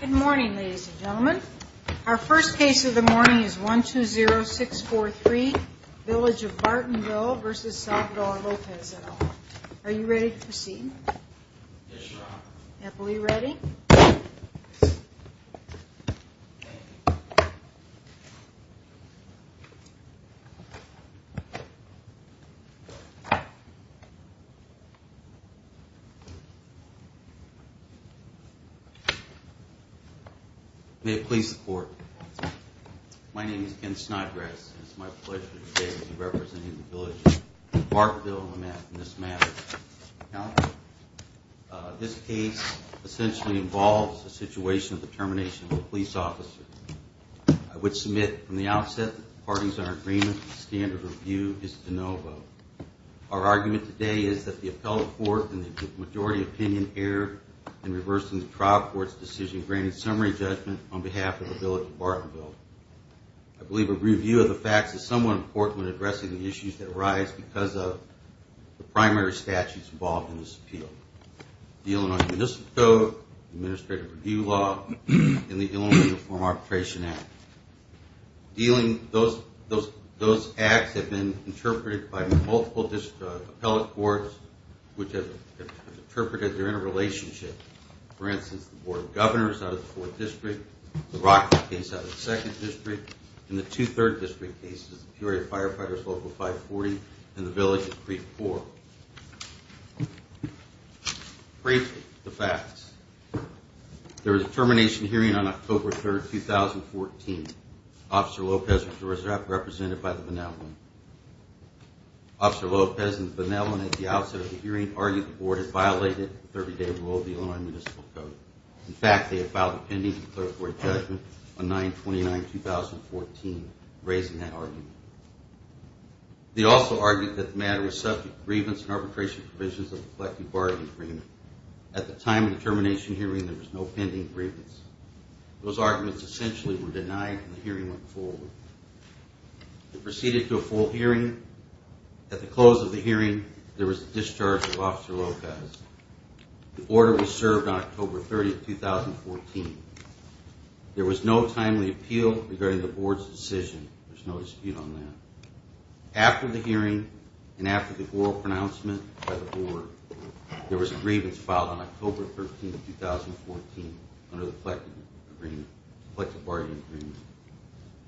Good morning, ladies and gentlemen. Our first case of the morning is 120643 Village of Bartonville v. Salvador Lopez et al. Are you ready to proceed? Yes, Your Honor. Are we ready? May it please the Court. My name is Ken Snodgrass, and it is my pleasure today to be representing the Village of Bartonville in this matter. Counsel, this case essentially involves the situation of the termination of a police officer. I would submit from the outset that the parties are in agreement that the standard of review is de novo. Our argument today is that the appellate court and the majority opinion err in reversing the trial court's decision granting summary judgment on behalf of the Village of Bartonville. I believe a review of the facts is somewhat important when addressing the issues that arise because of the primary statutes involved in this appeal. The Illinois Municipal Code, Administrative Review Law, and the Illinois Uniform Arbitration Act. Those acts have been interpreted by multiple appellate courts which have interpreted their interrelationship. For instance, the Board of Governors out of the 4th District, the Rockford case out of the 2nd District, and the two 3rd District cases, the Peoria Firefighters Local 540 and the Village of Creek 4. Briefly, the facts. There was a termination hearing on October 3rd, 2014. Officer Lopez was represented by the benevolent. Officer Lopez and the benevolent at the outset of the hearing argued the Board had violated the 30-day rule of the Illinois Municipal Code. In fact, they had filed a pending declaratory judgment on 9-29-2014, raising that argument. They also argued that the matter was subject to grievance and arbitration provisions of the collective bargaining agreement. At the time of the termination hearing, there was no pending grievance. Those arguments essentially were denied when the hearing went forward. It proceeded to a full hearing. At the close of the hearing, there was a discharge of Officer Lopez. The order was served on October 30th, 2014. There was no timely appeal regarding the Board's decision. There's no dispute on that. After the hearing and after the oral pronouncement by the Board, there was a grievance filed on October 13th, 2014 under the collective bargaining agreement.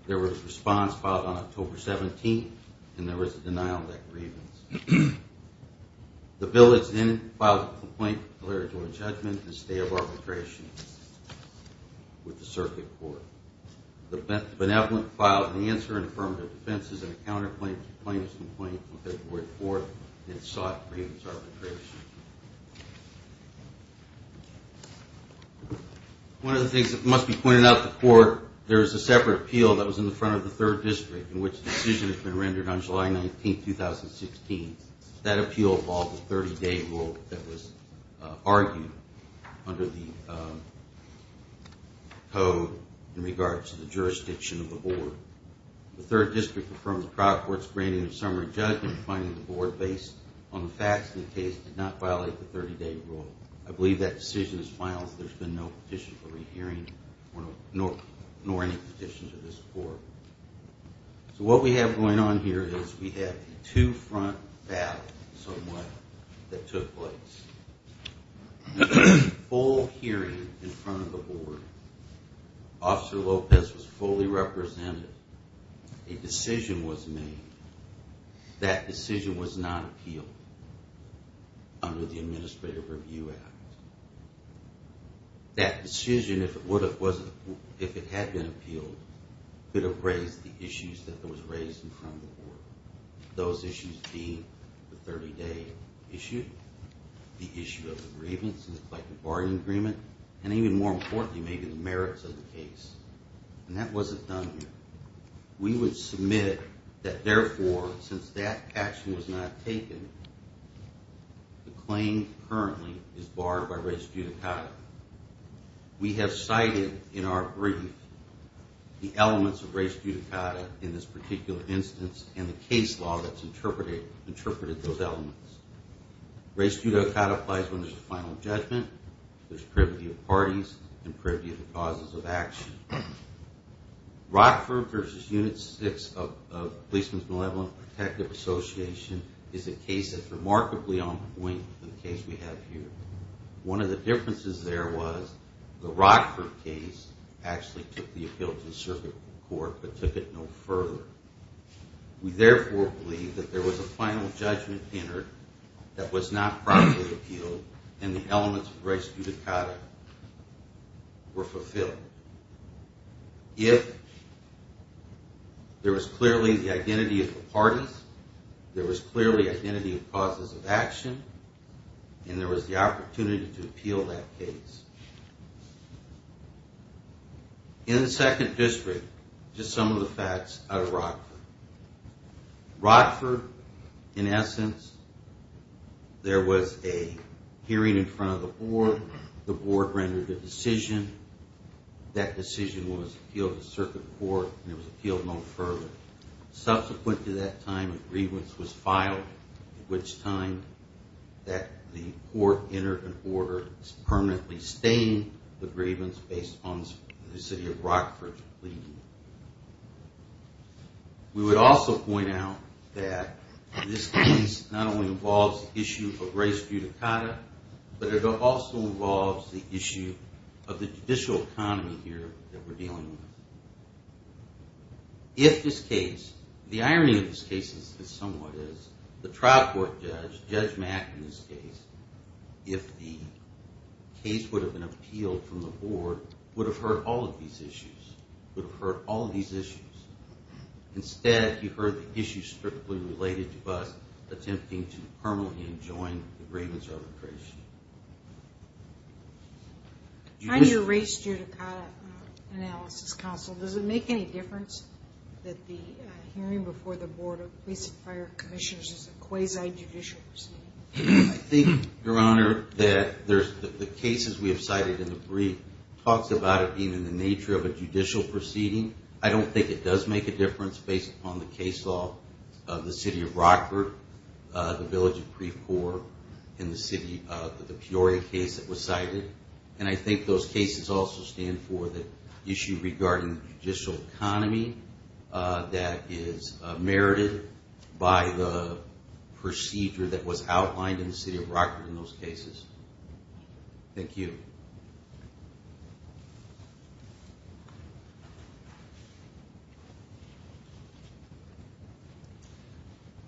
There was a response filed on October 17th, and there was a denial of that grievance. The bill that's in it filed a complaint, declaratory judgment, and stay of arbitration with the circuit court. The benevolent filed an answer in affirmative defenses and a counter plaintiff's complaint on February 4th and sought grievance arbitration. One of the things that must be pointed out to the court, there is a separate appeal that was in the front of the Third District in which the decision has been rendered on July 19th, 2016. That appeal involved a 30-day rule that was argued under the code in regards to the jurisdiction of the Board. The Third District affirmed the private court's granting of summary judgment, finding the Board, based on the facts of the case, did not violate the 30-day rule. I believe that decision is final, as there's been no petition for rehearing, nor any petitions of this Board. So what we have going on here is we have a two-front battle, somewhat, that took place. There was a full hearing in front of the Board. Officer Lopez was fully represented. A decision was made. That decision was not appealed under the Administrative Review Act. That decision, if it had been appealed, could have raised the issues that was raised in front of the Board. Those issues being the 30-day issue, the issue of the grievance and the collective bargaining agreement, and even more importantly, maybe the merits of the case. And that wasn't done here. We would submit that, therefore, since that action was not taken, the claim currently is barred by res judicata. We have cited in our brief the elements of res judicata in this particular instance and the case law that's interpreted those elements. Res judicata applies when there's a final judgment, there's privity of parties, and privity of the causes of action. Rockford v. Unit 6 of Policeman's Malevolent Protective Association is a case that's remarkably on point in the case we have here. One of the differences there was the Rockford case actually took the appeal to the circuit court but took it no further. We therefore believe that there was a final judgment entered that was not properly appealed and the elements of res judicata were fulfilled. If there was clearly the identity of the parties, there was clearly identity of causes of action, and there was the opportunity to appeal that case. In the second district, just some of the facts out of Rockford. Rockford, in essence, there was a hearing in front of the Board. The Board rendered a decision. That decision was appealed to circuit court and it was appealed no further. Subsequent to that time, a grievance was filed at which time the court entered an order permanently staying the grievance based on the city of Rockford's plea. We would also point out that this case not only involves the issue of res judicata, but it also involves the issue of the judicial economy here that we're dealing with. If this case, the irony of this case is somewhat is the trial court judge, Judge Mack in this case, if the case would have been appealed from the Board, would have heard all of these issues. Instead, he heard the issues strictly related to us attempting to permanently enjoin the grievance arbitration. In your res judicata analysis counsel, does it make any difference that the hearing before the Board of Police and Fire Commissioners is a quasi-judicial proceeding? I think, Your Honor, that the cases we have cited in the brief talks about it being in the nature of a judicial proceeding. I don't think it does make a difference based upon the case law of the city of Rockford, the village of Precourt, and the city of Peoria case that was cited. And I think those cases also stand for the issue regarding the judicial economy that is merited by the procedure that was outlined in the city of Rockford in those cases. Thank you.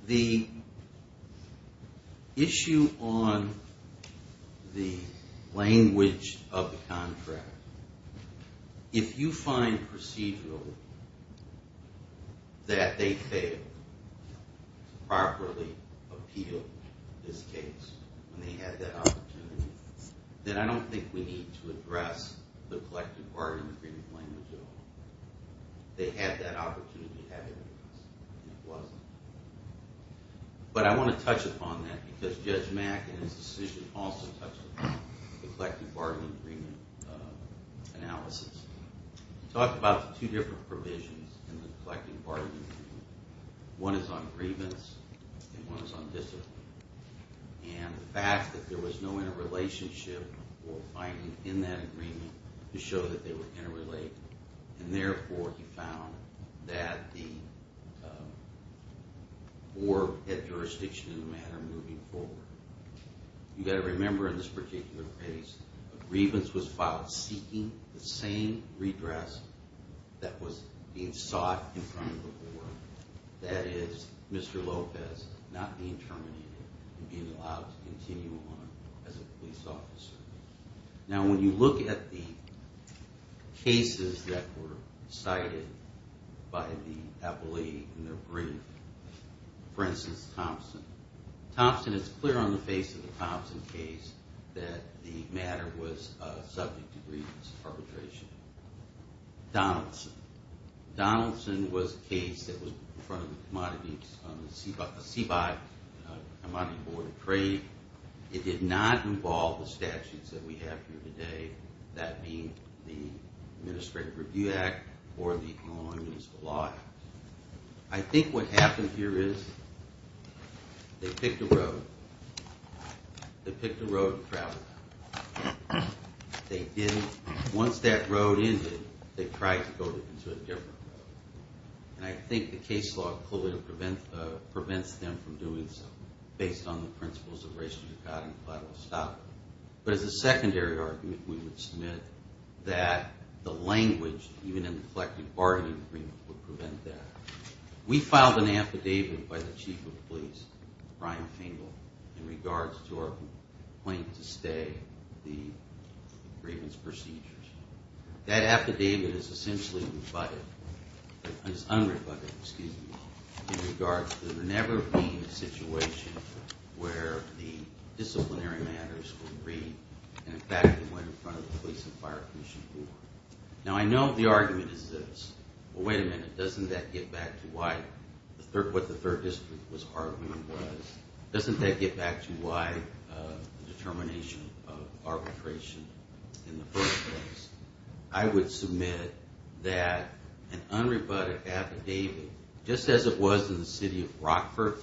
The issue on the language of the contract, if you find procedural that they failed to properly appeal this case when they had that opportunity, then I don't think we need to address the collective bargaining agreement language at all. They had that opportunity to have it, and it wasn't. But I want to touch upon that because Judge Mack and his decision also touched upon the collective bargaining agreement analysis. We talked about the two different provisions in the collective bargaining agreement. One is on grievance, and one is on discipline. And the fact that there was no interrelationship or binding in that agreement to show that they were interrelated, and therefore he found that the board had jurisdiction in the matter moving forward. You've got to remember in this particular case, a grievance was filed seeking the same redress that was being sought in front of the board. That is, Mr. Lopez not being terminated and being allowed to continue on as a police officer. Now when you look at the cases that were cited by the appellee in their brief, for instance, Thompson. Thompson, it's clear on the face of the Thompson case that the matter was subject to grievance arbitration. Donaldson. Donaldson was a case that was in front of the CBI Commodity Board of Trade. It did not involve the statutes that we have here today, that being the Administrative Review Act or the Illinois Municipal Law Act. I think what happened here is they picked a road. They picked a road to travel down. Once that road ended, they tried to go to a different road. And I think the case law prevents them from doing so based on the principles of restitution and collateral establishment. But as a secondary argument, we would submit that the language, even in the collective bargaining agreement, would prevent that. We filed an affidavit by the Chief of Police, Brian Fingle, in regards to our complaint to stay the grievance procedures. That affidavit is essentially rebutted, is unrebutted, excuse me, in regards to there never being a situation where the disciplinary matters were agreed and, in fact, it went in front of the Police and Fire Commission Board. Now, I know the argument is this. Well, wait a minute. Doesn't that get back to what the Third District was arguing was? Doesn't that get back to why the determination of arbitration in the first place? I would submit that an unrebutted affidavit, just as it was in the City of Rockford,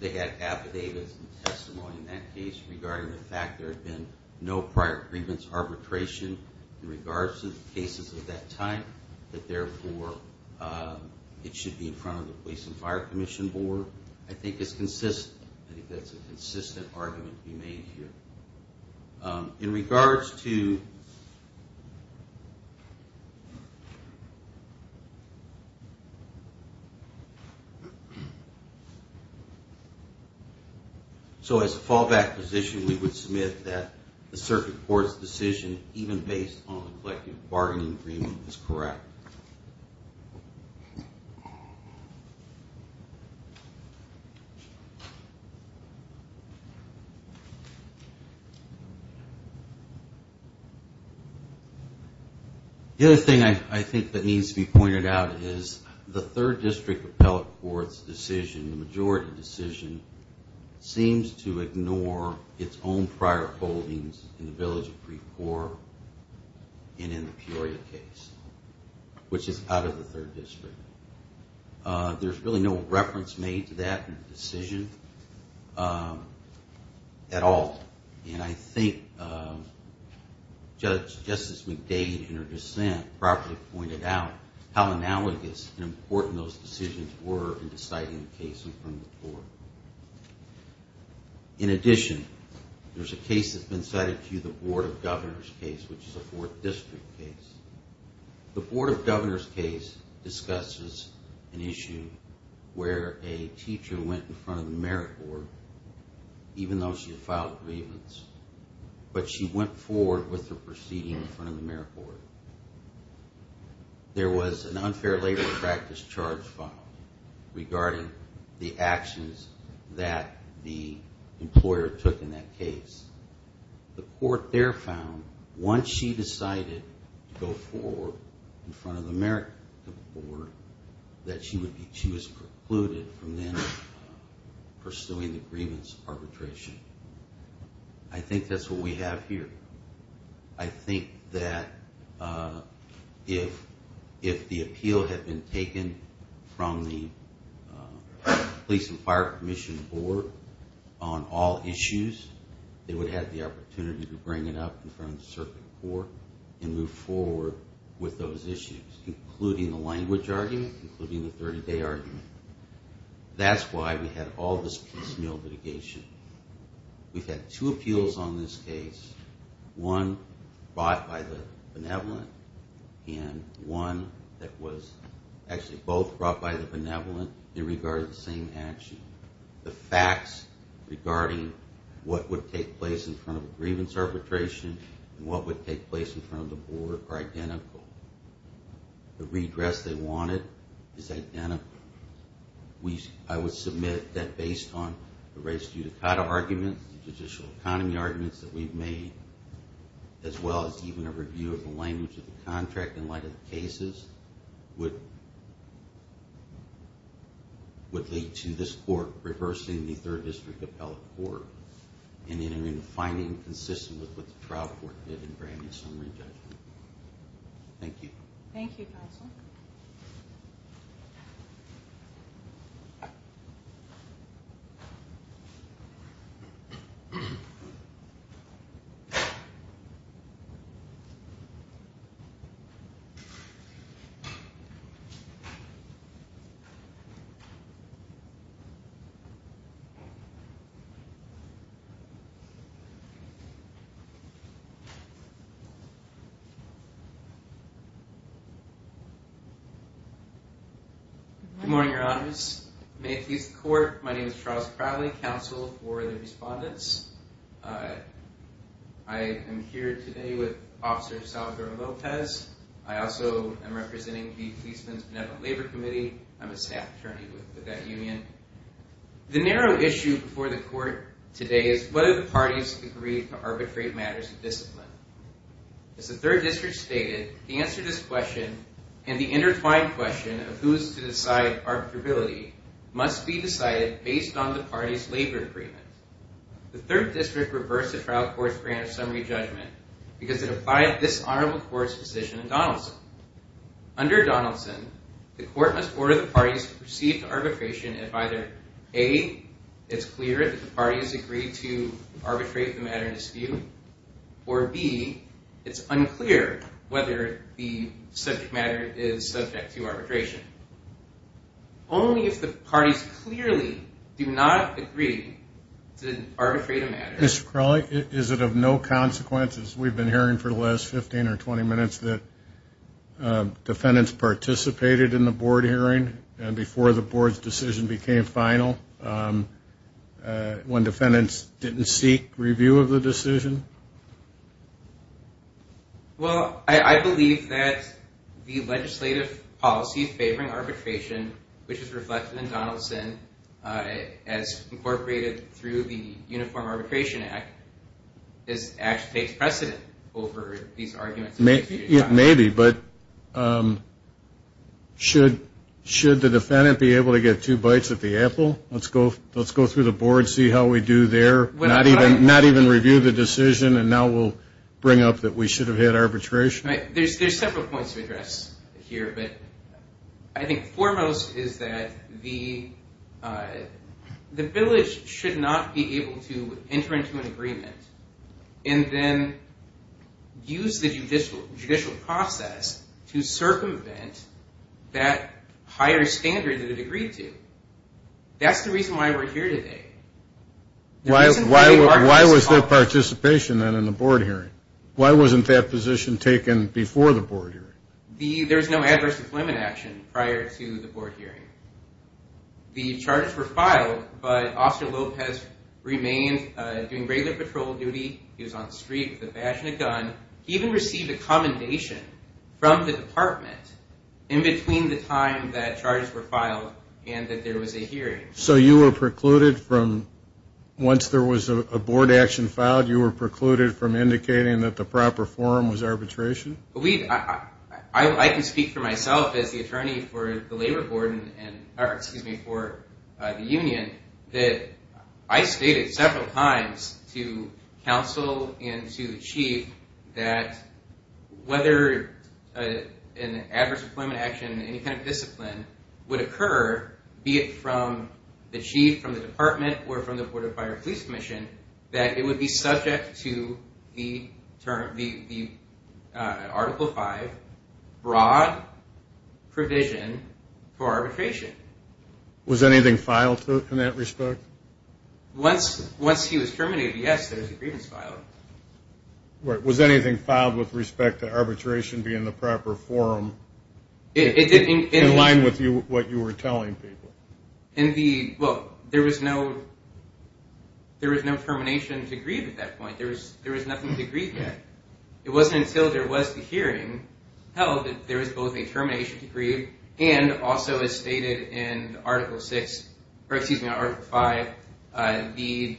they had affidavits and testimony in that case regarding the fact there had been no prior grievance arbitration in regards to cases of that type, that, therefore, it should be in front of the Police and Fire Commission Board. I think it's consistent. I think that's a consistent argument to be made here. In regards to... So, as a fallback position, we would submit that the Circuit Court's decision, even based on the collective bargaining agreement, is correct. The other thing I think that needs to be pointed out is the Third District Appellate Court's decision, the majority decision, seems to ignore its own prior holdings in the Village of Precourt and in the Peoria case, which is out of the Third District. There's really no reference made to that decision at all. And I think Judge Justice McDade, in her dissent, properly pointed out how analogous and important those decisions were in deciding the case in front of the Court. In addition, there's a case that's been cited to you, the Board of Governors case, which is a Fourth District case. The Board of Governors case discusses an issue where a teacher went in front of the Merit Board, even though she had filed grievance, but she went forward with her proceeding in front of the Merit Board. There was an unfair labor practice charge filed regarding the actions that the employer took in that case. The court there found, once she decided to go forward in front of the Merit Board, that she was precluded from then pursuing the grievance arbitration. I think that's what we have here. I think that if the appeal had been taken from the Police and Fire Commission Board on all issues, they would have the opportunity to bring it up in front of the Circuit Court and move forward with those issues, including the language argument, including the 30-day argument. That's why we had all this piecemeal litigation. We've had two appeals on this case, one brought by the Benevolent and one that was actually both brought by the Benevolent in regard to the same action. The facts regarding what would take place in front of a grievance arbitration and what would take place in front of the Board are identical. The redress they wanted is identical. I would submit that based on the res judicata arguments, the judicial economy arguments that we've made, as well as even a review of the language of the contract in light of the cases, would lead to this Court reversing the Third District Appellate Court and entering a finding consistent with what the trial court did in granting summary judgment. Thank you. Thank you, Counsel. Thank you. Good morning, Your Honors. May it please the Court, my name is Charles Crowley, Counsel for the Respondents. I am here today with Officer Salvador Lopez. I also am representing the Policeman's Benevolent Labor Committee. I'm a staff attorney with that union. The narrow issue before the Court today is whether the parties agreed to arbitrate matters of discipline. As the Third District stated, the answer to this question and the intertwined question of who is to decide arbitrability must be decided based on the party's labor agreement. The Third District reversed the trial court's grant of summary judgment because it applied this honorable court's position in Donaldson. Under Donaldson, the court must order the parties to proceed to arbitration if either A, it's clear that the parties agreed to arbitrate the matter in dispute, or B, it's unclear whether the subject matter is subject to arbitration. Only if the parties clearly do not agree to arbitrate a matter. Mr. Crowley, is it of no consequence, as we've been hearing for the last 15 or 20 minutes, that defendants participated in the board hearing before the board's decision became final, when defendants didn't seek review of the decision? Well, I believe that the legislative policies favoring arbitration, which is reflected in Donaldson as incorporated through the Uniform Arbitration Act, takes precedent over these arguments. Maybe, but should the defendant be able to get two bites at the apple? Let's go through the board, see how we do there, not even review the decision, and now we'll bring up that we should have had arbitration. There's several points to address here, but I think foremost is that the village should not be able to enter into an agreement and then use the judicial process to circumvent that higher standard that it agreed to. That's the reason why we're here today. Why was there participation then in the board hearing? Why wasn't that position taken before the board hearing? There was no adverse employment action prior to the board hearing. The charges were filed, but Officer Lopez remained doing regular patrol duty. He was on the street with a badge and a gun. He even received a commendation from the department in between the time that charges were filed and that there was a hearing. So you were precluded from, once there was a board action filed, you were precluded from indicating that the proper form was arbitration? I can speak for myself as the attorney for the union that I stated several times to counsel and to the chief that whether an adverse employment action in any kind of discipline would occur, be it from the chief, from the department, or from the Board of Fire and Police Commission, that it would be subject to the Article V broad provision for arbitration. Was anything filed in that respect? Once he was terminated, yes, there was a grievance filed. Was anything filed with respect to arbitration being the proper form? In line with what you were telling people. Well, there was no termination to grieve at that point. There was nothing to grieve yet. It wasn't until there was the hearing held that there was both a termination to grieve and also as stated in Article V,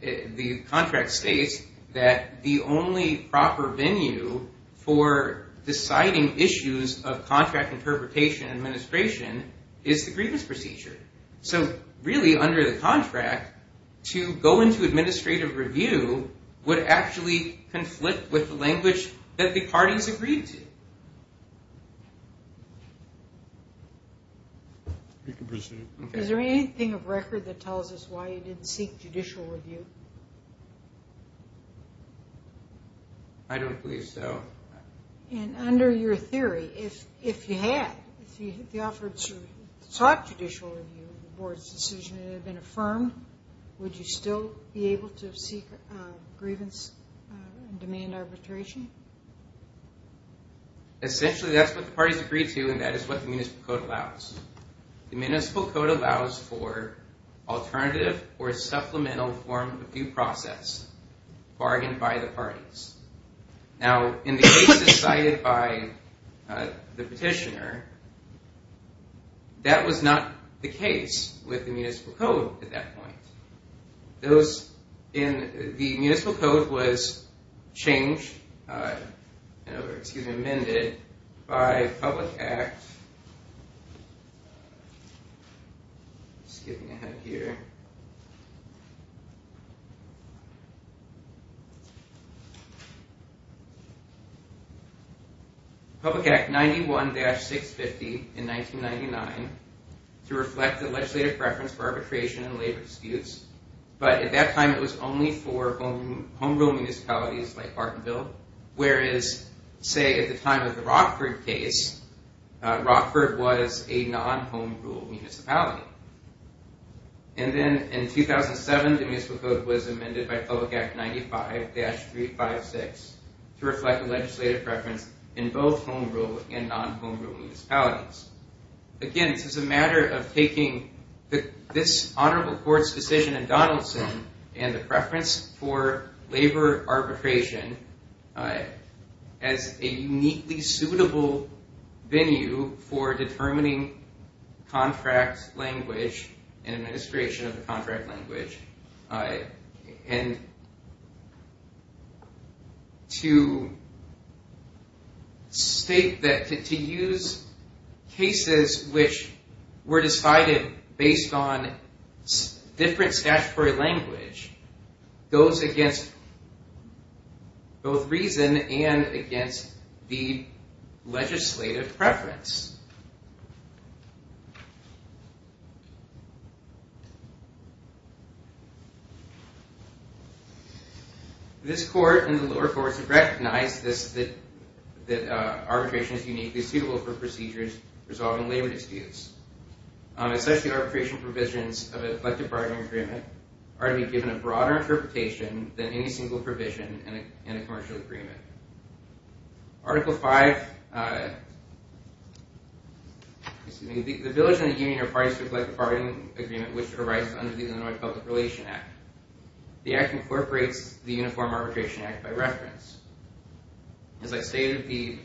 the contract states that the only proper venue for deciding issues of contract interpretation and administration is the grievance procedure. So really under the contract, to go into administrative review would actually conflict with the language that the parties agreed to. Is there anything of record that tells us why you didn't seek judicial review? I don't believe so. And under your theory, if you had, if you offered to talk judicial review to the Board's decision and it had been affirmed, would you still be able to seek grievance and demand arbitration? Essentially that's what the parties agreed to and that is what the municipal code allows. The municipal code allows for alternative or supplemental form of due process bargained by the parties. Now, in the cases cited by the petitioner, that was not the case with the municipal code at that point. The municipal code was amended by Public Act 91-650 in 1999 to reflect the legislative preference for arbitration and labor disputes, but at that time it was only for home rule municipalities like Bartonville, whereas say at the time of the Rockford case, Rockford was a non-home rule municipality. And then in 2007, the municipal code was amended by Public Act 95-356 to reflect the legislative preference in both home rule and non-home rule municipalities. Again, this is a matter of taking this honorable court's decision in Donaldson and the preference for labor arbitration as a uniquely suitable venue for determining contract language and administration of the contract language. And to use cases which were decided based on different statutory language goes against both reason and against the legislative preference. This court and the lower courts have recognized that arbitration is uniquely suitable for procedures resolving labor disputes. Especially arbitration provisions of a collective bargaining agreement are to be given a broader interpretation than any single provision in a commercial agreement. Article 5, the village and the union are parties to a collective bargaining agreement which arises under the Illinois Public Relations Act. The Act incorporates the Uniform Arbitration Act by reference. As I stated, the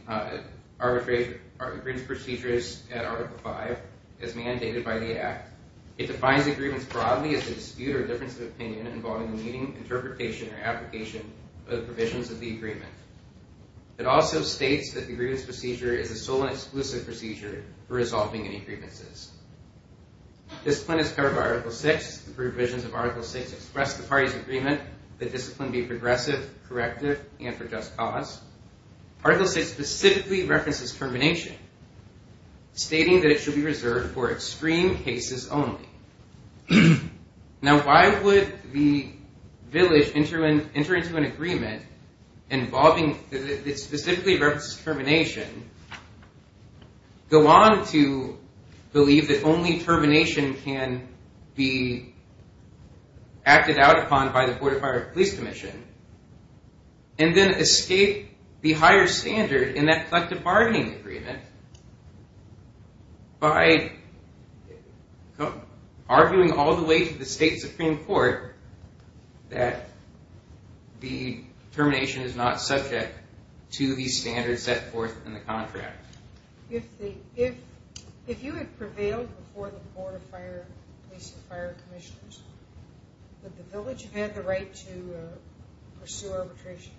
arbitration procedures at Article 5 is mandated by the Act. It defines agreements broadly as a dispute or difference of opinion involving the meeting, interpretation, or application of the provisions of the agreement. It also states that the agreements procedure is a sole and exclusive procedure for resolving any agreements. Discipline is covered by Article 6. The provisions of Article 6 express the party's agreement that discipline be progressive, corrective, and for just cause. Article 6 specifically references termination, stating that it should be reserved for extreme cases only. Now why would the village enter into an agreement involving that specifically references termination, go on to believe that only termination can be acted out upon by the Board of Fire and Police Commission, and then escape the higher standard in that collective bargaining agreement by arguing all the way to the State Supreme Court that the termination is not subject to the standards set forth in the contract? If you had prevailed before the Board of Fire and Police and Fire Commissioners, would the village have had the right to pursue arbitration?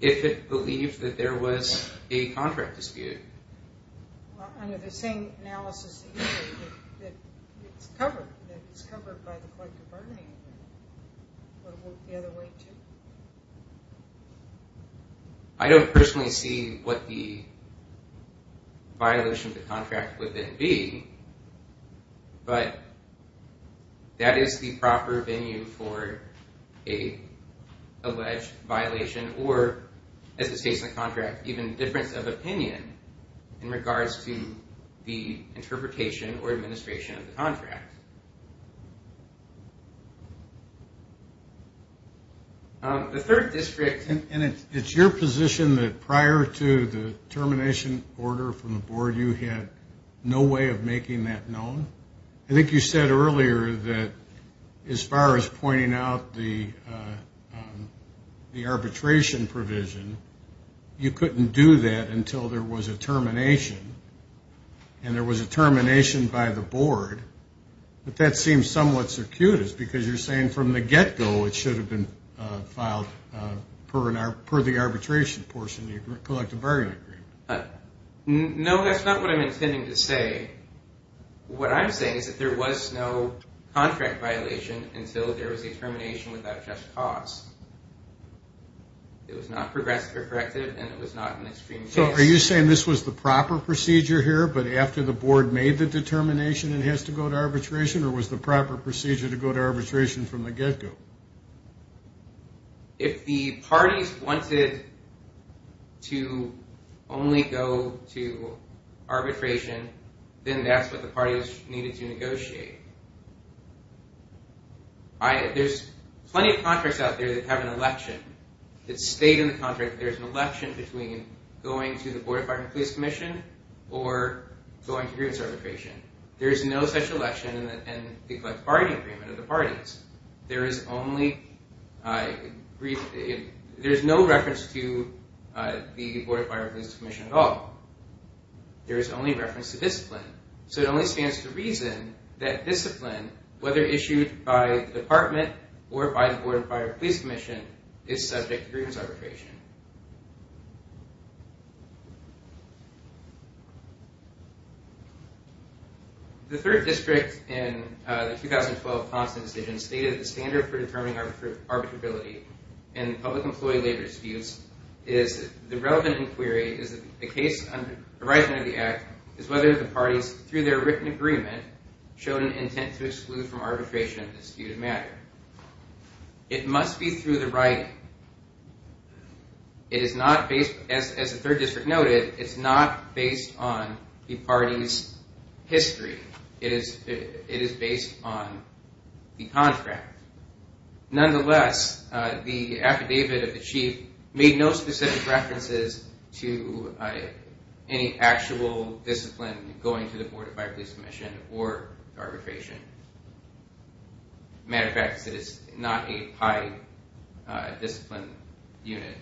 If it believed that there was a contract dispute. Under the same analysis that you gave, that it's covered by the collective bargaining agreement, would it work the other way too? I don't personally see what the violation of the contract would then be, but that is the proper venue for a alleged violation, or as it states in the contract, even difference of opinion in regards to the interpretation or administration of the contract. The third district... And it's your position that prior to the termination order from the Board, you had no way of making that known? I think you said earlier that as far as pointing out the arbitration provision, you couldn't do that until there was a termination, and there was a termination by the Board. But that seems somewhat circuitous, because you're saying from the get-go it should have been filed per the arbitration portion of the collective bargaining agreement. No, that's not what I'm intending to say. What I'm saying is that there was no contract violation until there was a termination without just cause. It was not progressive or corrective, and it was not an extreme case. So are you saying this was the proper procedure here, but after the Board made the determination it has to go to arbitration, or was the proper procedure to go to arbitration from the get-go? If the parties wanted to only go to arbitration, then that's what the parties needed to negotiate. There's plenty of contracts out there that have an election. It's stated in the contract that there's an election between going to the Board of Fire and Police Commission or going to grievance arbitration. There is no such election in the collective bargaining agreement of the parties. There is no reference to the Board of Fire and Police Commission at all. There is only reference to discipline. So it only stands to reason that discipline, whether issued by the Department or by the Board of Fire and Police Commission, is subject to grievance arbitration. The 3rd District in the 2012 Constant Decision stated the standard for determining arbitrability in public employee labor disputes is the relevant inquiry is the case under the right hand of the Act is whether the parties, through their written agreement, showed an intent to exclude from arbitration a disputed matter. It must be through the writing. It is not based, as the 3rd District noted, it's not based on the party's history. It is based on the contract. Nonetheless, the affidavit of the Chief made no specific references to any actual discipline going to the Board of Fire and Police Commission or arbitration. As a matter of fact, it is not a high discipline unit.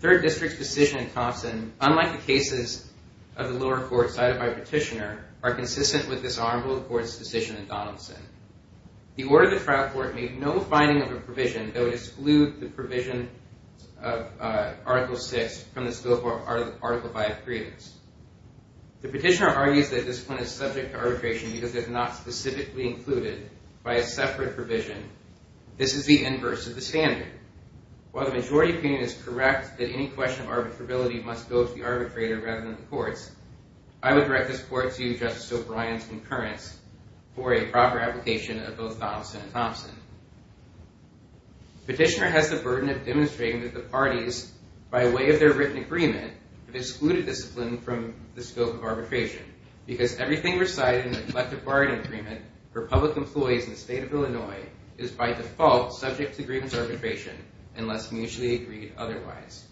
The 3rd District's decision in Thompson, unlike the cases of the lower court cited by Petitioner, are consistent with this honorable court's decision in Donaldson. The order of the trial court made no finding of a provision that would exclude the provision of Article VI from the scope of Article V grievance. The Petitioner argues that discipline is subject to arbitration because it is not specifically included by a separate provision. This is the inverse of the standard. While the majority opinion is correct that any question of arbitrability must go to the arbitrator rather than the courts, I would direct this court to Justice O'Brien's concurrence for a proper application of both Donaldson and Thompson. Petitioner has the burden of demonstrating that the parties, by way of their written agreement, have excluded discipline from the scope of arbitration because everything recited in the Collective Bargaining Agreement for public employees in the State of Illinois is by default subject to grievance arbitration unless mutually agreed otherwise.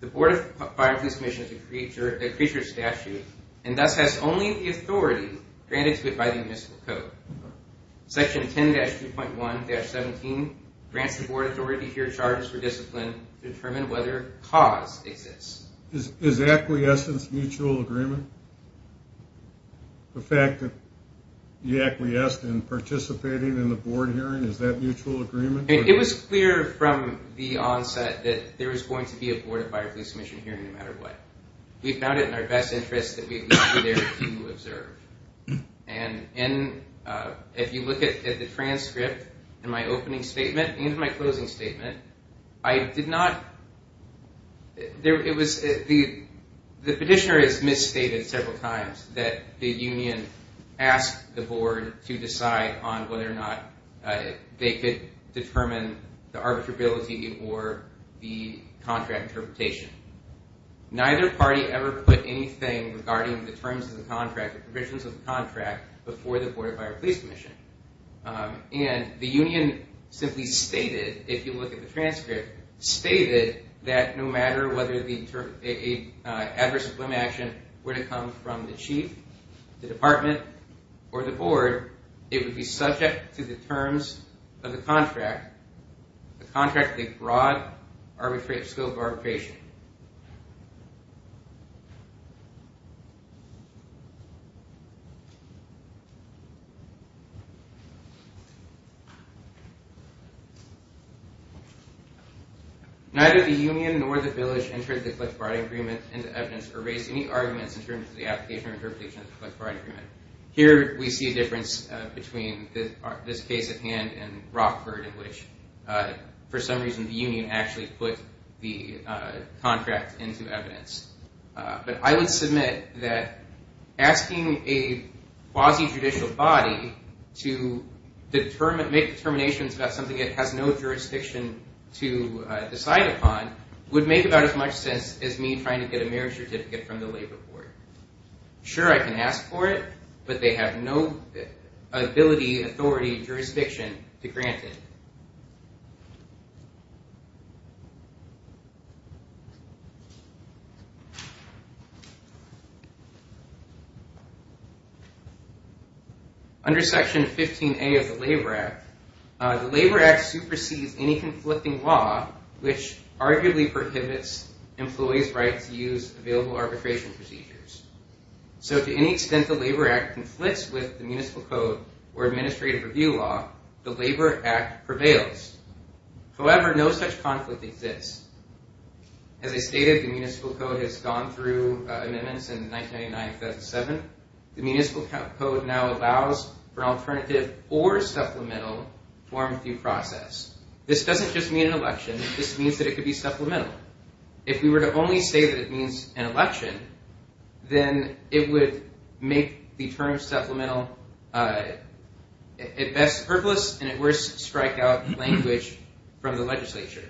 The Board of Fire and Police Commission is a creature of statute and thus has only the authority granted to it by the Municipal Code. Section 10-2.1-17 grants the Board authority to hear charges for discipline to determine whether cause exists. Is acquiescence mutual agreement? The fact that you acquiesced in participating in the Board hearing, is that mutual agreement? It was clear from the onset that there was going to be a Board of Fire and Police Commission hearing no matter what. We found it in our best interest that we leave you there to observe. And if you look at the transcript in my opening statement and in my closing statement, I did not... The petitioner has misstated several times that the union asked the Board to decide on whether or not they could determine the arbitrability or the contract interpretation. Neither party ever put anything regarding the terms of the contract or provisions of the contract before the Board of Fire and Police Commission. And the union simply stated, if you look at the transcript, stated that no matter whether the term... adverse employment action were to come from the Chief, the Department, or the Board, it would be subject to the terms of the contract, the contract of broad scope arbitration. Neither the union nor the village entered the collective bargaining agreement into evidence or raised any arguments in terms of the application or interpretation of the collective bargaining agreement. Here we see a difference between this case at hand and Rockford, in which, for some reason, the union actually put the contract into evidence. But I would submit that asking the union or asking a quasi-judicial body to make determinations about something it has no jurisdiction to decide upon would make about as much sense as me trying to get a marriage certificate from the labor board. Sure, I can ask for it, but they have no ability, authority, or jurisdiction to grant it. Under Section 15A of the Labor Act, the Labor Act supersedes any conflicting law, which arguably prohibits employees' right to use available arbitration procedures. So to any extent the Labor Act conflicts with the municipal code or administrative review law, the Labor Act prevails. However, no such conflict exists. As I stated, the municipal code has gone through amendments in 1999-2007. The municipal code now allows for an alternative or supplemental form of due process. This doesn't just mean an election. This means that it could be supplemental. If we were to only say that it means an election, then it would make the term supplemental at best purposeless and at worst strike out language from the legislature.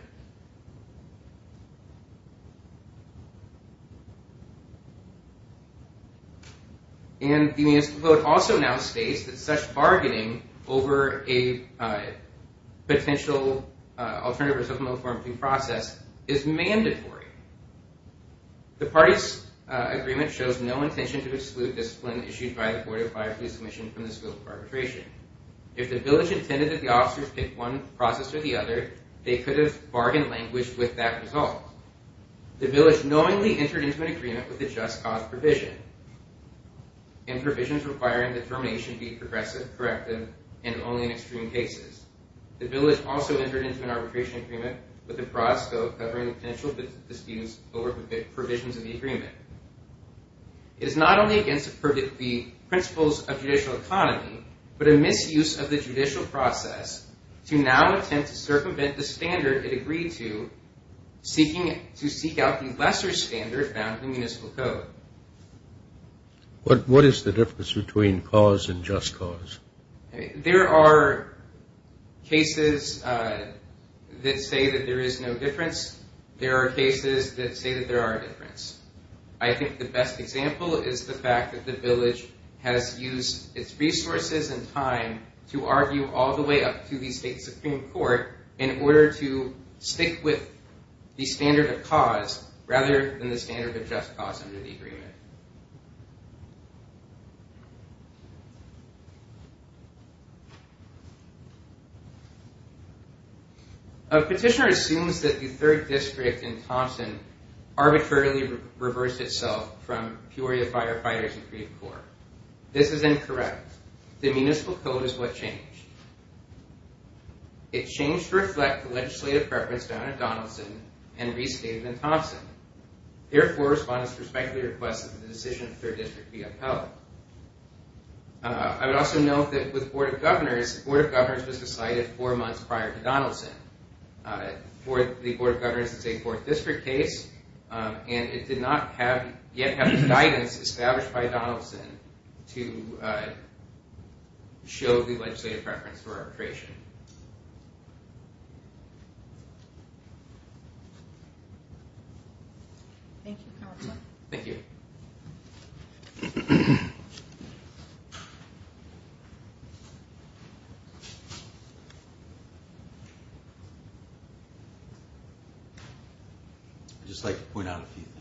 And the municipal code also now states that such bargaining over a potential alternative or supplemental form of due process is mandatory. The party's agreement shows no intention to exclude discipline issued by the 405 Police Commission from the scope of arbitration. If the village intended that the officers pick one process or the other, they could have bargained language with that result. The village knowingly entered into an agreement with a just cause provision and provisions requiring that termination be progressive, corrective, and only in extreme cases. The village also entered into an arbitration agreement with the prospect of covering the potential disputes over provisions of the agreement. It is not only against the principles of judicial economy, but a misuse of the judicial process to now attempt to circumvent the standard it agreed to, seeking to seek out the lesser standard found in municipal code. What is the difference between cause and just cause? There are cases that say that there is no difference. There are cases that say that there are a difference. I think the best example is the fact that the village has used its resources and time to argue all the way up to the state Supreme Court in order to stick with the standard of cause rather than the standard of just cause under the agreement. A petitioner assumes that the 3rd District in Thompson arbitrarily reversed itself from Peoria Firefighters and Creef Corps. This is incorrect. The municipal code is what changed. It changed to reflect the legislative preference found in Donaldson and restated in Thompson. Therefore, respondents respectfully request that the decision of the 3rd District be upheld. I would also note that with the Board of Governors, the Board of Governors was decided four months prior to Donaldson. The Board of Governors is a 4th District case, and it did not yet have the guidance established by Donaldson to show the legislative preference for arbitration. Thank you, Counselor. Thank you. I'd just like to point out a few things.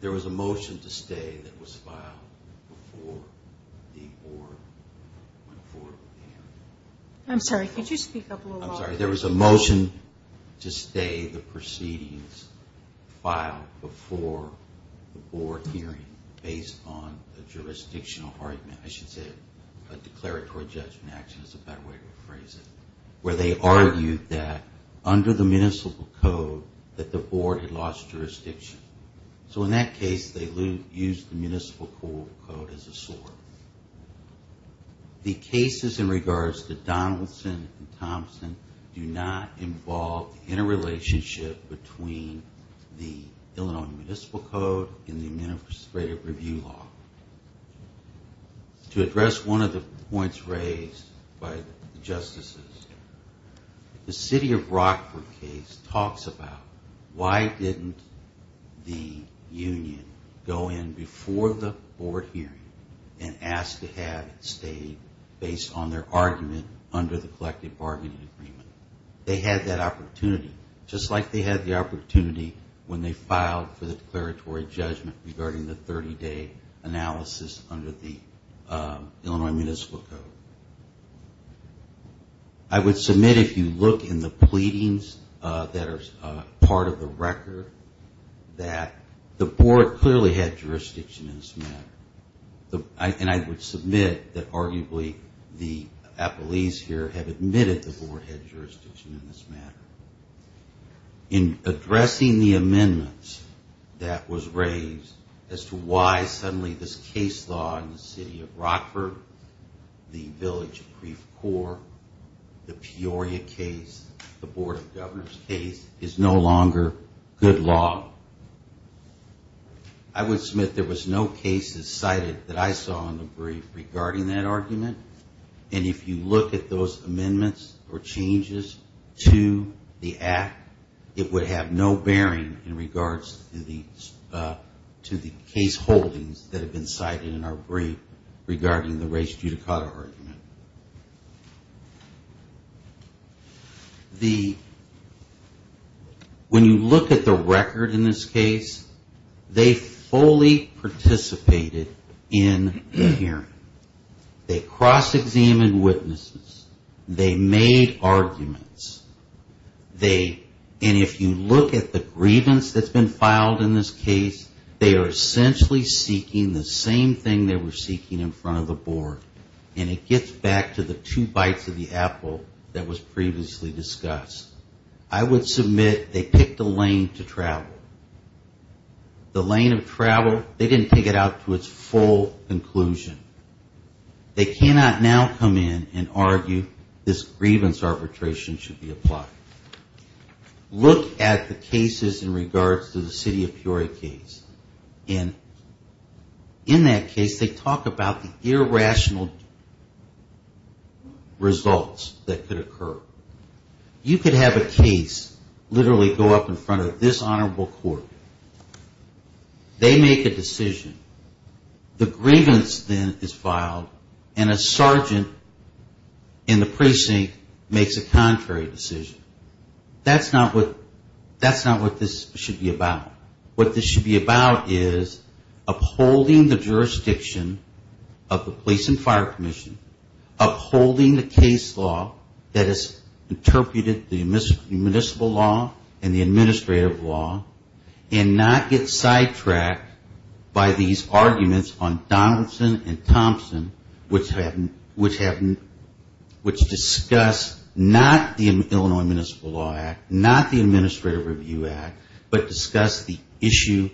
There was a motion to stay that was filed before the Board went forward with the hearing. I'm sorry, could you speak up a little louder? I'm sorry. There was a motion to stay the proceedings filed before the Board hearing based on a jurisdictional argument. I should say a declaratory judgment action is a better way to phrase it, where they argued that under the municipal code that the Board had lost jurisdiction. So in that case, they used the municipal code as a sword. The cases in regards to Donaldson and Thompson do not involve interrelationship between the Illinois Municipal Code and the Administrative Review Law. To address one of the points raised by the Justices, the City of Rockford case talks about why didn't the union go in before the Board hearing and ask to have it stayed based on their argument under the collective bargaining agreement. They had that opportunity, just like they had the opportunity when they filed for the declaratory judgment regarding the 30-day analysis under the Illinois Municipal Code. I would submit if you look in the pleadings that are part of the record that the Board clearly had jurisdiction in this matter. And I would submit that arguably the appellees here have admitted the Board had jurisdiction in this matter. In addressing the amendments that was raised as to why suddenly this case law in the City of Rockford, the Village Brief Court, the Peoria case, the Board of Governors case is no longer good law. I would submit there was no cases cited that I saw in the brief regarding that argument. And if you look at those amendments or changes to the act, it would have no bearing in regards to the case holdings that have been cited in our brief regarding the race judicata argument. When you look at the record in this case, they fully participated in the hearing. They cross-examined witnesses. They made arguments. And if you look at the grievance that's been filed in this case, they are essentially seeking the same thing they were seeking in front of the Board. And it gets back to the two bites of the apple that was previously discussed. I would submit they picked a lane to travel. The lane of travel, they didn't take it out to its full conclusion. They cannot now come in and argue this grievance arbitration should be applied. Look at the cases in regards to the City of Peoria case. And in that case, they talk about the irrational results that could occur. You could have a case literally go up in front of this Honorable Court. They make a decision. The grievance then is filed, and a sergeant in the precinct makes a contrary decision. That's not what this should be about. What this should be about is upholding the jurisdiction of the Police and Fire Commission, upholding the case law that has interpreted the municipal law and the administrative law, and not get sidetracked by these arguments on Donaldson and Thompson, which discuss not the Illinois Municipal Law Act, not the Administrative Review Act, but discuss the issue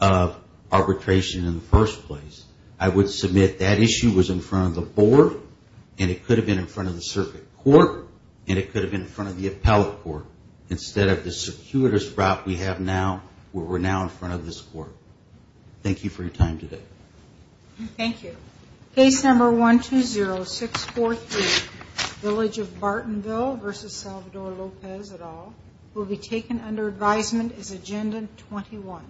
of arbitration in the first place. I would submit that issue was in front of the Board, and it could have been in front of the Circuit Court, and it could have been in front of the Appellate Court. Instead of the circuitous route we have now, where we're now in front of this Court. Thank you for your time today. Thank you. Case number 120643, Village of Bartonville v. Salvador Lopez, et al., will be taken under advisement as Agenda 21.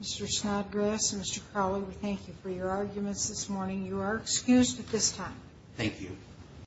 Mr. Snodgrass and Mr. Crowley, we thank you for your arguments this morning. You are excused at this time. Thank you.